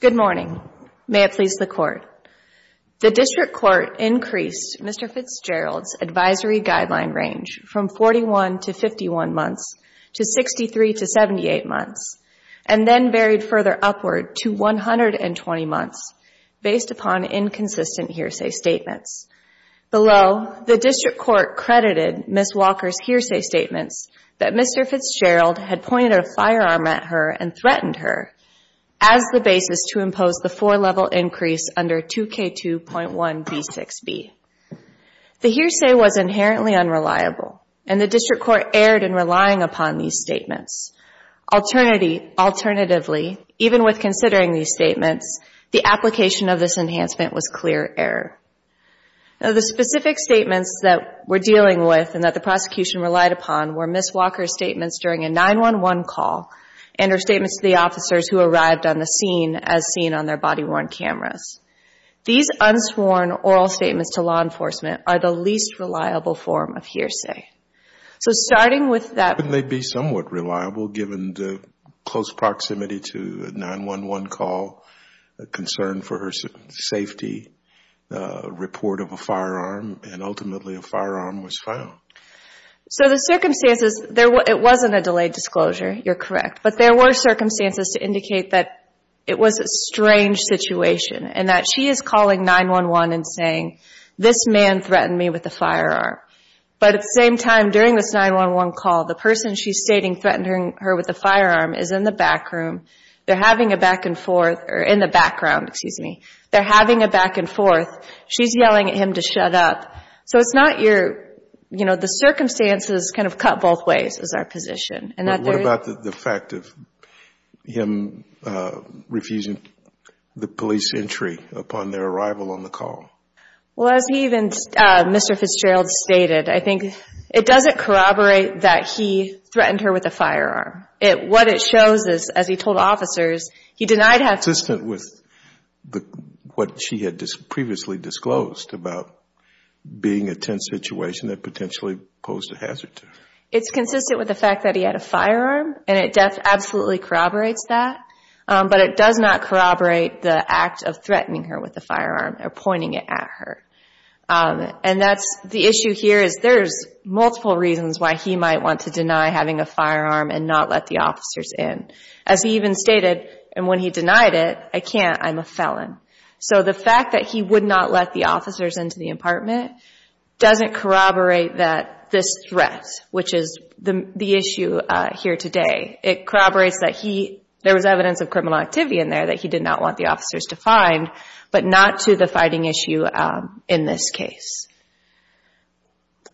Good morning. May it please the Court. The District Court increased Mr. Fitzgerald's advisory guideline range from 41 to 51 months to 63 to 78 months, and then varied further upward to 120 months based upon inconsistent hearsay statements. Below, the District Court credited Ms. Walker's hearsay statements that Mr. Fitzgerald had pointed a firearm at her and threatened her as the basis to impose the four-level increase under 2K2.1b6b. The hearsay was inherently unreliable, and the District Court erred in relying upon these statements. Alternatively, even with considering these statements, the application of this enhancement was clear error. The specific statements that we're dealing with and that the prosecution relied upon were Ms. Walker's statements during a 911 call and her statements to the officers who arrived on the scene as seen on their body-worn cameras. These unsworn oral statements to law enforcement are the least reliable form of hearsay. So starting with that How can they be somewhat reliable given the close proximity to a 911 call, concern for her safety, report of a firearm, and ultimately a firearm was found? So the circumstances, it wasn't a delayed disclosure, you're correct, but there were circumstances to indicate that it was a strange situation and that she is calling 911 and saying, this man threatened me with a firearm. But at the same time, during this 911 call, the person she's stating threatened her with a firearm is in the back room. They're having a back-and-forth, or in the background, excuse me. They're having a back-and-forth. She's yelling at him to shut up. So it's not your, you know, the circumstances kind of cut both ways is our position. And what about the fact of him refusing the police entry upon their arrival on the call? Well, as he even, Mr. Fitzgerald stated, I think it doesn't corroborate that he threatened her with a firearm. What it shows is, as he told officers, he denied having Consistent with what she had previously disclosed about being a tense situation that potentially posed a hazard to her. It's consistent with the fact that he had a firearm, and it absolutely corroborates that. But it does not corroborate the act of threatening her with a firearm or pointing it at her. And that's, the issue here is there's multiple reasons why he might want to deny having a firearm and not let the officers in. As he even stated, and when he denied it, I can't. I'm a felon. So the fact that he would not let the officers into the apartment doesn't corroborate that this threat, which is the issue here today. It corroborates that he, there was evidence of criminal activity in there that he did not want the officers to find, but not to the fighting issue in this case.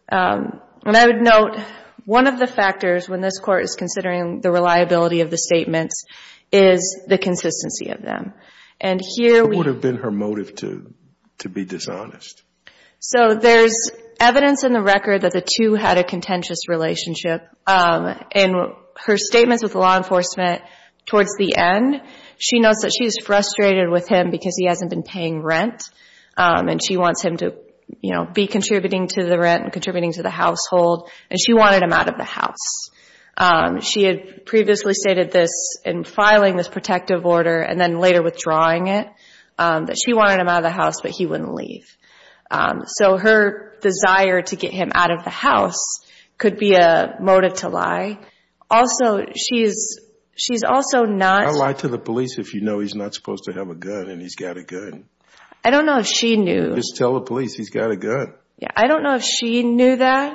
And I would note, one of the factors when this Court is considering the reliability of the statements is the consistency of them. And here we It would have been her motive to be dishonest. So there's evidence in the record that the two had a contentious relationship. In her statements with law enforcement towards the end, she notes that she's frustrated with him because he hasn't been paying rent. And she wants him to, you know, be contributing to the rent and contributing to the household. And she wanted him out of the house. She had previously stated this in filing this protective order and then later withdrawing it, that she wanted him out of the house, but he wouldn't leave. So her desire to get him out of the house could be a motive to lie. Also she's, she's also not I lie to the police if you know he's not supposed to have a gun and he's got a gun. I don't know if she knew Just tell the police he's got a gun. Yeah, I don't know if she knew that.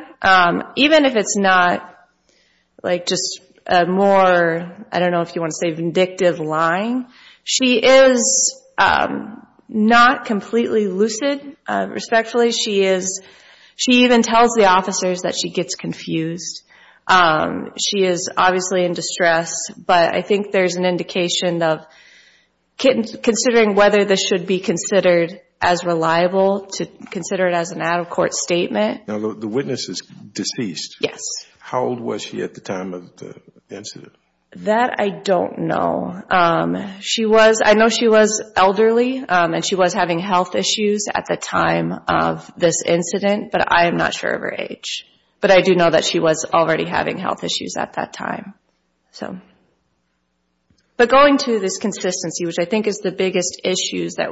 Even if it's not, like, just a more, I don't know if you want to say, vindictive lying. She is not completely lucid, respectfully. She is, she even tells the officers that she gets confused. She is obviously in distress. But I think there's an indication of considering whether this should be considered as reliable to consider it as an out-of-court statement. Now the witness is deceased. Yes. How old was she at the time of the incident? That I don't know. She was, I know she was elderly and she was having health issues at the time of this incident, but I am not sure of her age. But I do know that she was already having health issues at that time. So, but going to this consistency, which I think is the biggest issues that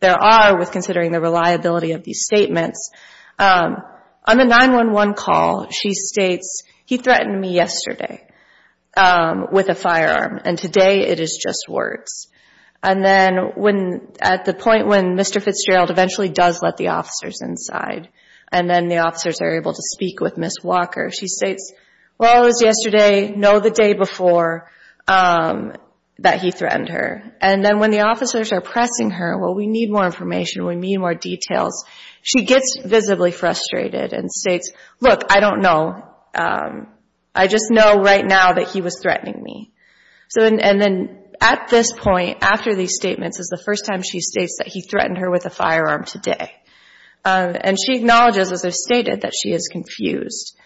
there are with considering the reliability of these statements, on the 911 call she states, he threatened me yesterday with a firearm and today it is just words. And then when, at the point when Mr. Fitzgerald eventually does let the officers inside and then the officers are able to speak with Ms. Walker, she states, well, it was yesterday, no, the day before that he threatened her. And then when the officers are pressing her, well, we need more information, we need more details, she gets visibly frustrated and states, look, I don't know. I just know right now that he was threatening me. So, and then at this point, after these statements is the first time she states that he threatened her with a firearm today. And she acknowledges, as I stated, that she is confused.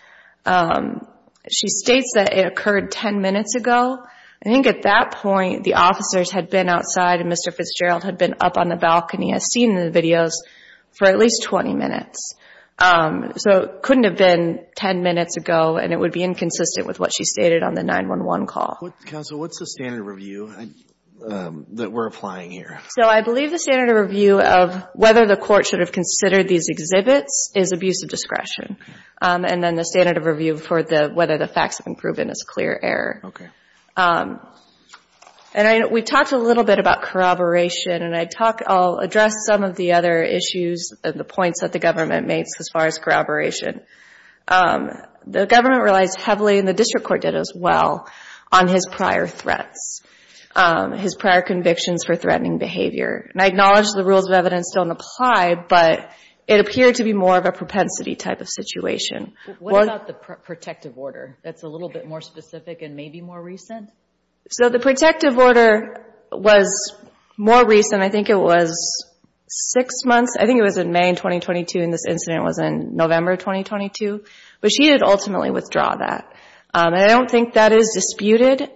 She states that it occurred 10 minutes ago. I think at that point the officers had been outside and Mr. Fitzgerald had been up on the balcony, as seen in the videos, for at least 20 minutes. So it couldn't have been 10 minutes ago and it would be inconsistent with what she stated on the 911 call. Counsel, what's the standard review that we're applying here? So I believe the standard review of whether the court should have considered these exhibits is abuse of discretion. And then the standard of review for whether the facts have been proven is clear error. And we talked a little bit about corroboration and I'll address some of the other issues and the points that the government makes as far as corroboration. The government relies heavily, and the district court did as well, on his prior threats. His prior convictions for threatening behavior. And I acknowledge the rules of evidence don't apply, but it appeared to be more of a propensity type of situation. What about the protective order that's a little bit more specific and maybe more recent? So the protective order was more recent. I think it was 6 months. I think it was in May 2022 and this incident was in November 2022. But she did ultimately withdraw that. And I don't think that is disputed.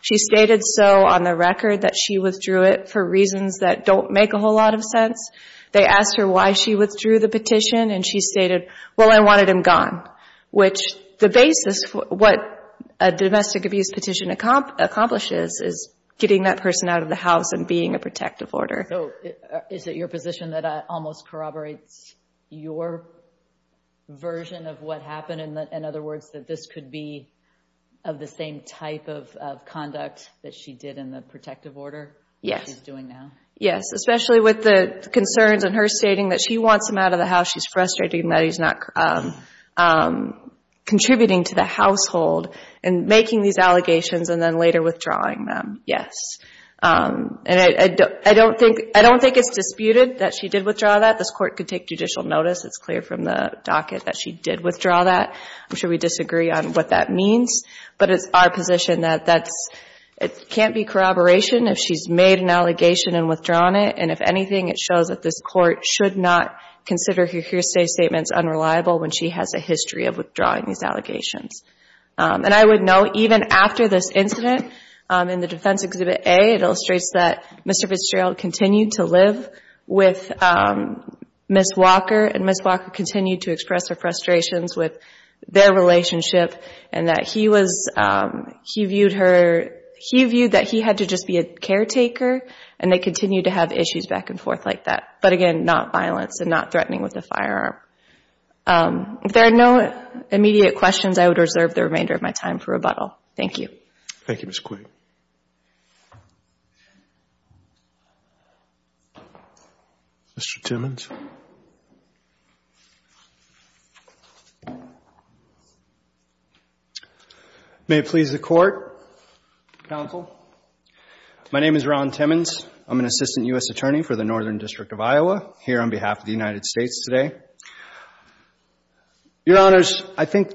She stated so on the record that she withdrew it for reasons that don't make a whole lot of sense. They asked her why she withdrew the petition and she stated, well, I wanted him gone. Which the basis for what a domestic abuse petition accomplishes is getting that person out of the house and being a protective order. So is it your position that almost corroborates your version of what happened? In other words, that this could be of the same type of conduct that she did in the protective order that she's doing now? Yes, especially with the concerns and her stating that she wants him out of the house. She's frustrated that he's not contributing to the household and making these allegations and then later withdrawing them. Yes. I don't think it's disputed that she did withdraw that. This court could take judicial notice. It's clear from the docket that she did withdraw that. I'm sure we disagree on what that means. But it's our position that it can't be corroboration if she's made an allegation and withdrawn it. And if anything, it shows that this court should not consider her hearsay statements unreliable when she has a history of withdrawing these allegations. And I would note, even after this incident, in the Defense Exhibit A, it illustrates that Mr. Fitzgerald continued to live with Ms. Walker and Ms. Walker continued to express her frustrations with their relationship and that he was, he viewed her, he viewed that he had to just be a caretaker and they continued to have issues back and forth like that. But again, not violence and not threatening with a firearm. If there are no immediate questions, I would reserve the remainder of my time for rebuttal. Thank you. Thank you, Ms. Quigg. Mr. Timmons. May it please the Court, Counsel. My name is Ron Timmons. I'm an Assistant U.S. Attorney for the Northern District of Iowa here on behalf of the United States today. Your Honors, I think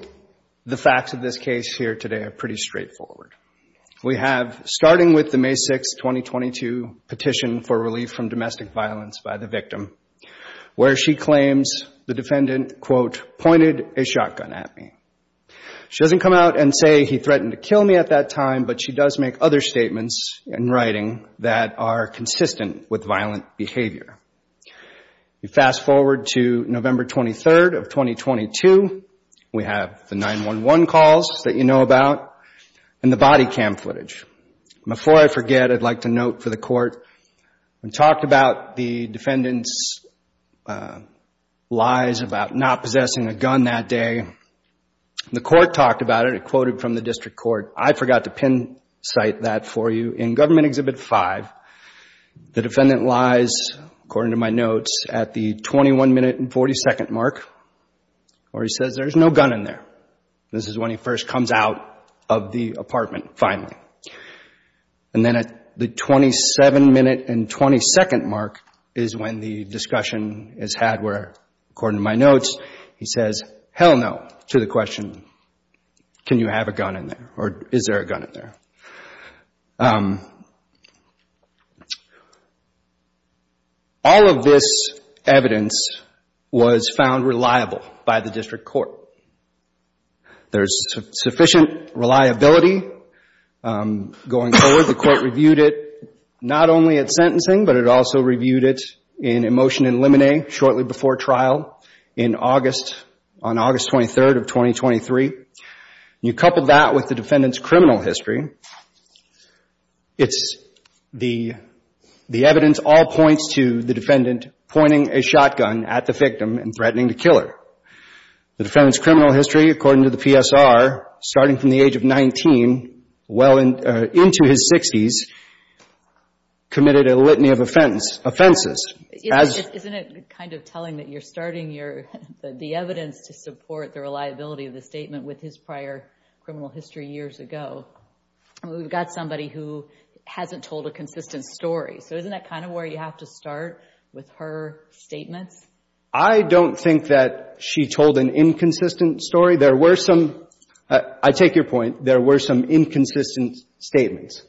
the facts of this case here today are pretty straightforward. We have, starting with the May 6, 2022 petition for relief from domestic violence by the victim, where she claims the defendant, quote, pointed a shotgun at me. She doesn't come out and say he threatened to kill me at that time, but she does make other statements in writing that are consistent with violent behavior. You fast forward to November 23rd of 2022. We have the 911 calls that you know about and the body cam footage. Before I forget, I'd like to note for the Court we talked about the defendant's lies about not possessing a gun that day. The Court talked about it. It quoted from the District Court. I forgot to pin-cite that for you. In Government Exhibit 5, the defendant lies, according to my notes, at the 21 minute and 40 second mark where he says there's no gun in there. This is when he first comes out of the apartment, finally. And then at the 27 minute and 20 second mark is when the discussion is had where, according to my notes, he says hell no to the question, can you have a gun in there or is there a gun in there. All of this evidence was found reliable by the District Court. There's sufficient reliability. Going forward, the Court reviewed it not only at sentencing but it also reviewed it in a motion in limine shortly before trial on August 23rd of 2023. You couple that with the defendant's criminal history. The evidence all points to the defendant pointing a shotgun at the victim and threatening to kill her. The defendant's criminal history, according to the PSR starting from the age of 19 well into his 60s committed a litany of offenses. Isn't it kind of telling that you're starting the evidence to support the reliability of the statement with his prior criminal history years ago? We've got somebody who hasn't told a consistent story so isn't that kind of where you have to start with her statements? I don't think that she told an inconsistent story. There were some, I take your point, there were some inconsistent statements.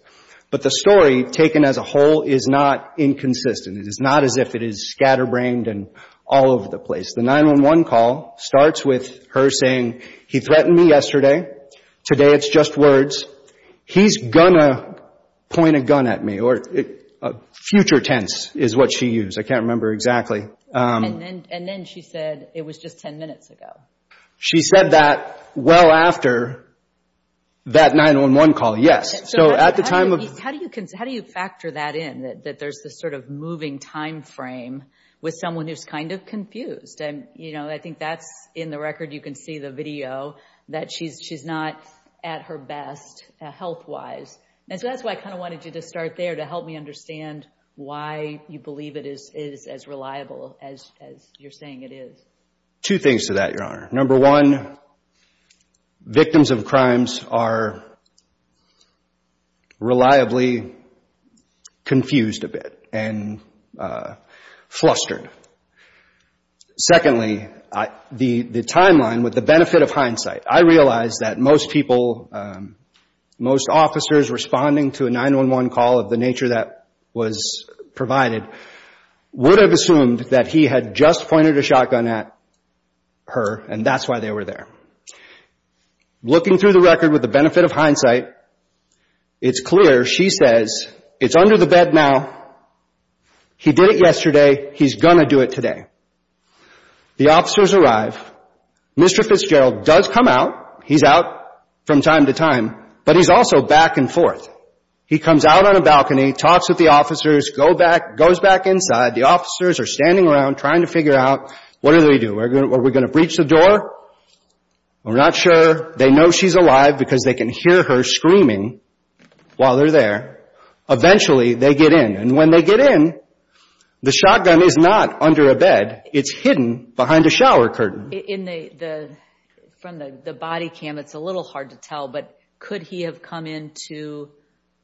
But the story taken as a whole is not inconsistent. It is not as if it is scatterbrained and all over the place. The 911 call starts with her saying he threatened me yesterday, today it's just words. He's gonna point a gun at me or future tense is what she used. I can't remember exactly. And then she said it was just 10 minutes ago. She said that well after that 911 call, yes. How do you factor that in? That there's this sort of moving time frame with someone who's kind of confused. I think that's in the record, you can see the video that she's not at her best health-wise. And so that's why I kind of wanted you to start there to help me understand why you believe it is as reliable as you're saying it is. Two things to that, Your Honor. Number one, victims of crimes are reliably confused a bit and flustered. Secondly, the timeline with the benefit of hindsight. I realize that most people, most officers responding to a 911 call of the nature that was provided would have assumed that he had just pointed a shotgun at her and that's why they were there. Looking through the record with the benefit of hindsight, it's clear she says it's under the bed now, he did it yesterday, he's gonna do it today. The officers arrive, Mr. Fitzgerald does come out, he's out from time to time but he's also back and forth. He comes out on a balcony, talks with the officers, goes back inside, the officers are standing around trying to figure out, what do we do, are we gonna breach the door? We're not sure, they know she's alive because they can hear her screaming while they're there. Eventually they get in and when they get in, the shotgun is not under a bed it's hidden behind a shower curtain. From the body cam, it's a little hard to tell, but could he have come into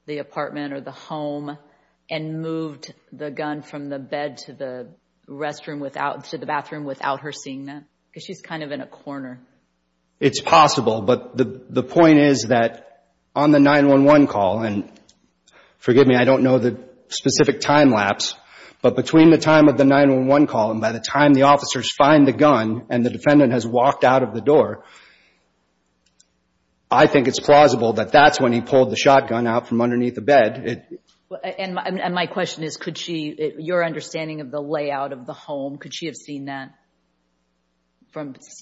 the apartment or the home and moved the gun from the bed to the bathroom without her seeing that? She's kind of in a corner. It's possible, but the point is that on the 911 call, and forgive me I don't know the specific time lapse, but between the time of the 911 call and by the time the officers find the gun and the defendant has walked out of the door I think it's plausible that that's when he pulled the shotgun out from underneath the bed. And my question is, could she, your understanding of the layout of the home, could she have seen that?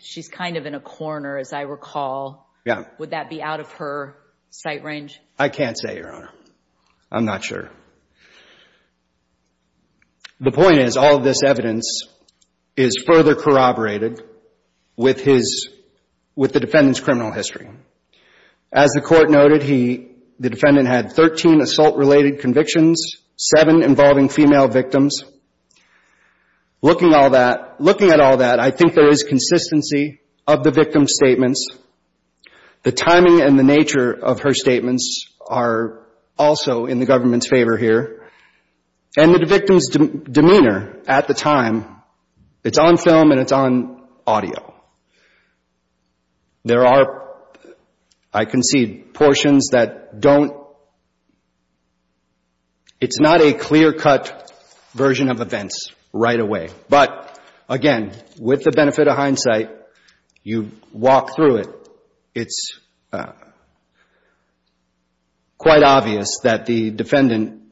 She's kind of in a corner as I recall would that be out of her sight range? I can't say, Your Honor. I'm not sure. The point is that all of this evidence is further corroborated with the defendant's criminal history. As the court noted, the defendant had 13 assault-related convictions 7 involving female victims. Looking at all that, I think there is consistency of the victim's statements the timing and the nature of her statements are also in the government's favor here and the victim's demeanor at the time it's on film and it's on audio. There are I concede, portions that don't it's not a clear cut version of events right away but again, with the benefit of hindsight you walk through it it's quite obvious that the defendant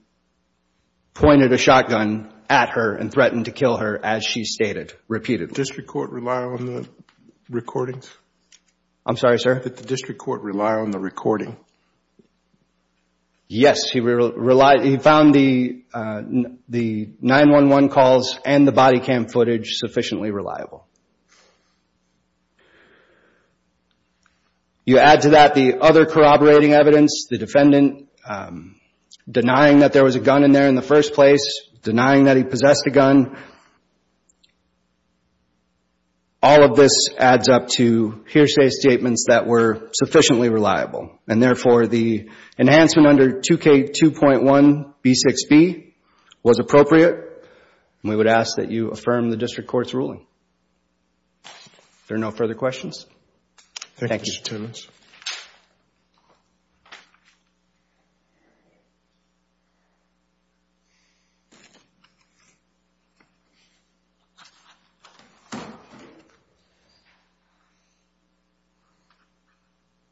pointed a shotgun at her and threatened to kill her as she stated repeatedly. Did the district court rely on the recording? Yes he found the 911 calls and the body cam footage sufficiently reliable. You add to that the other denying that there was a gun in there in the first place denying that he possessed a gun all of this adds up to hearsay statements that were sufficiently reliable and therefore the enhancement under 2K2.1B6B was appropriate and we would ask that you affirm the district court's ruling. Are there no further questions? Thank you Mr. Chairman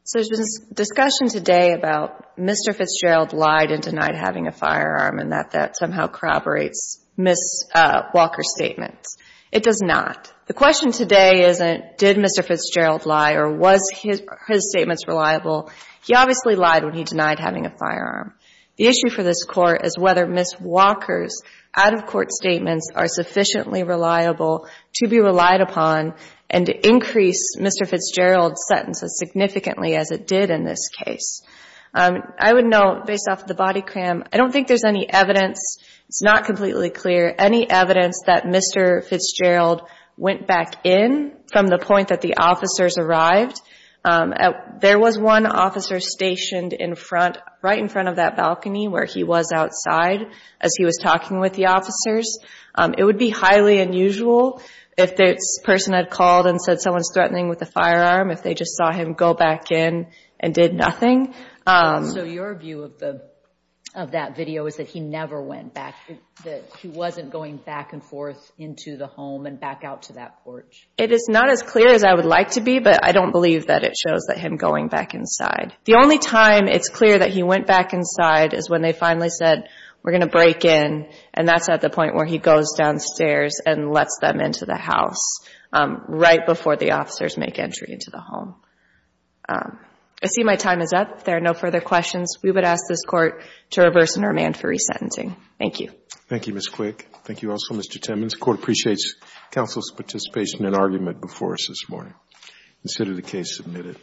So there's been discussion today about Mr. Fitzgerald lied and denied having a firearm and that that somehow corroborates Ms. Walker's statements. It does not. The question today isn't did Mr. Fitzgerald lie or was his statements reliable? He obviously lied when he denied having a firearm. It does not. The question today isn't The issue for this court is whether Ms. Walker's out of court statements are sufficiently reliable to be relied upon and to increase Mr. Fitzgerald's sentence as significantly as it did in this case. I would note based off the body cam I don't think there's any evidence it's not completely clear any evidence that Mr. Fitzgerald went back in from the point that the officers arrived. There was one officer stationed right in front of that balcony where he was outside as he was talking with the officers. It would be highly unusual if the person had called and said someone's threatening with a firearm if they just saw him go back in and did nothing. So your view of that video is that he never went back he wasn't going back and forth into the home and back out to that porch? It is not as clear as I would like to be but I don't believe that it shows that him going back inside. The only time it's clear that he went back inside is when they finally said we're going to break in and that's at the point where he goes downstairs and lets them into the house right before the officers make entry into the home. I see my time is up if there are no further questions we would ask this court to reverse and remand for resentencing. Thank you. Thank you Ms. Quick. Thank you also Mr. Timmons. The court appreciates counsel's participation and argument before us this morning. Consider the case submitted.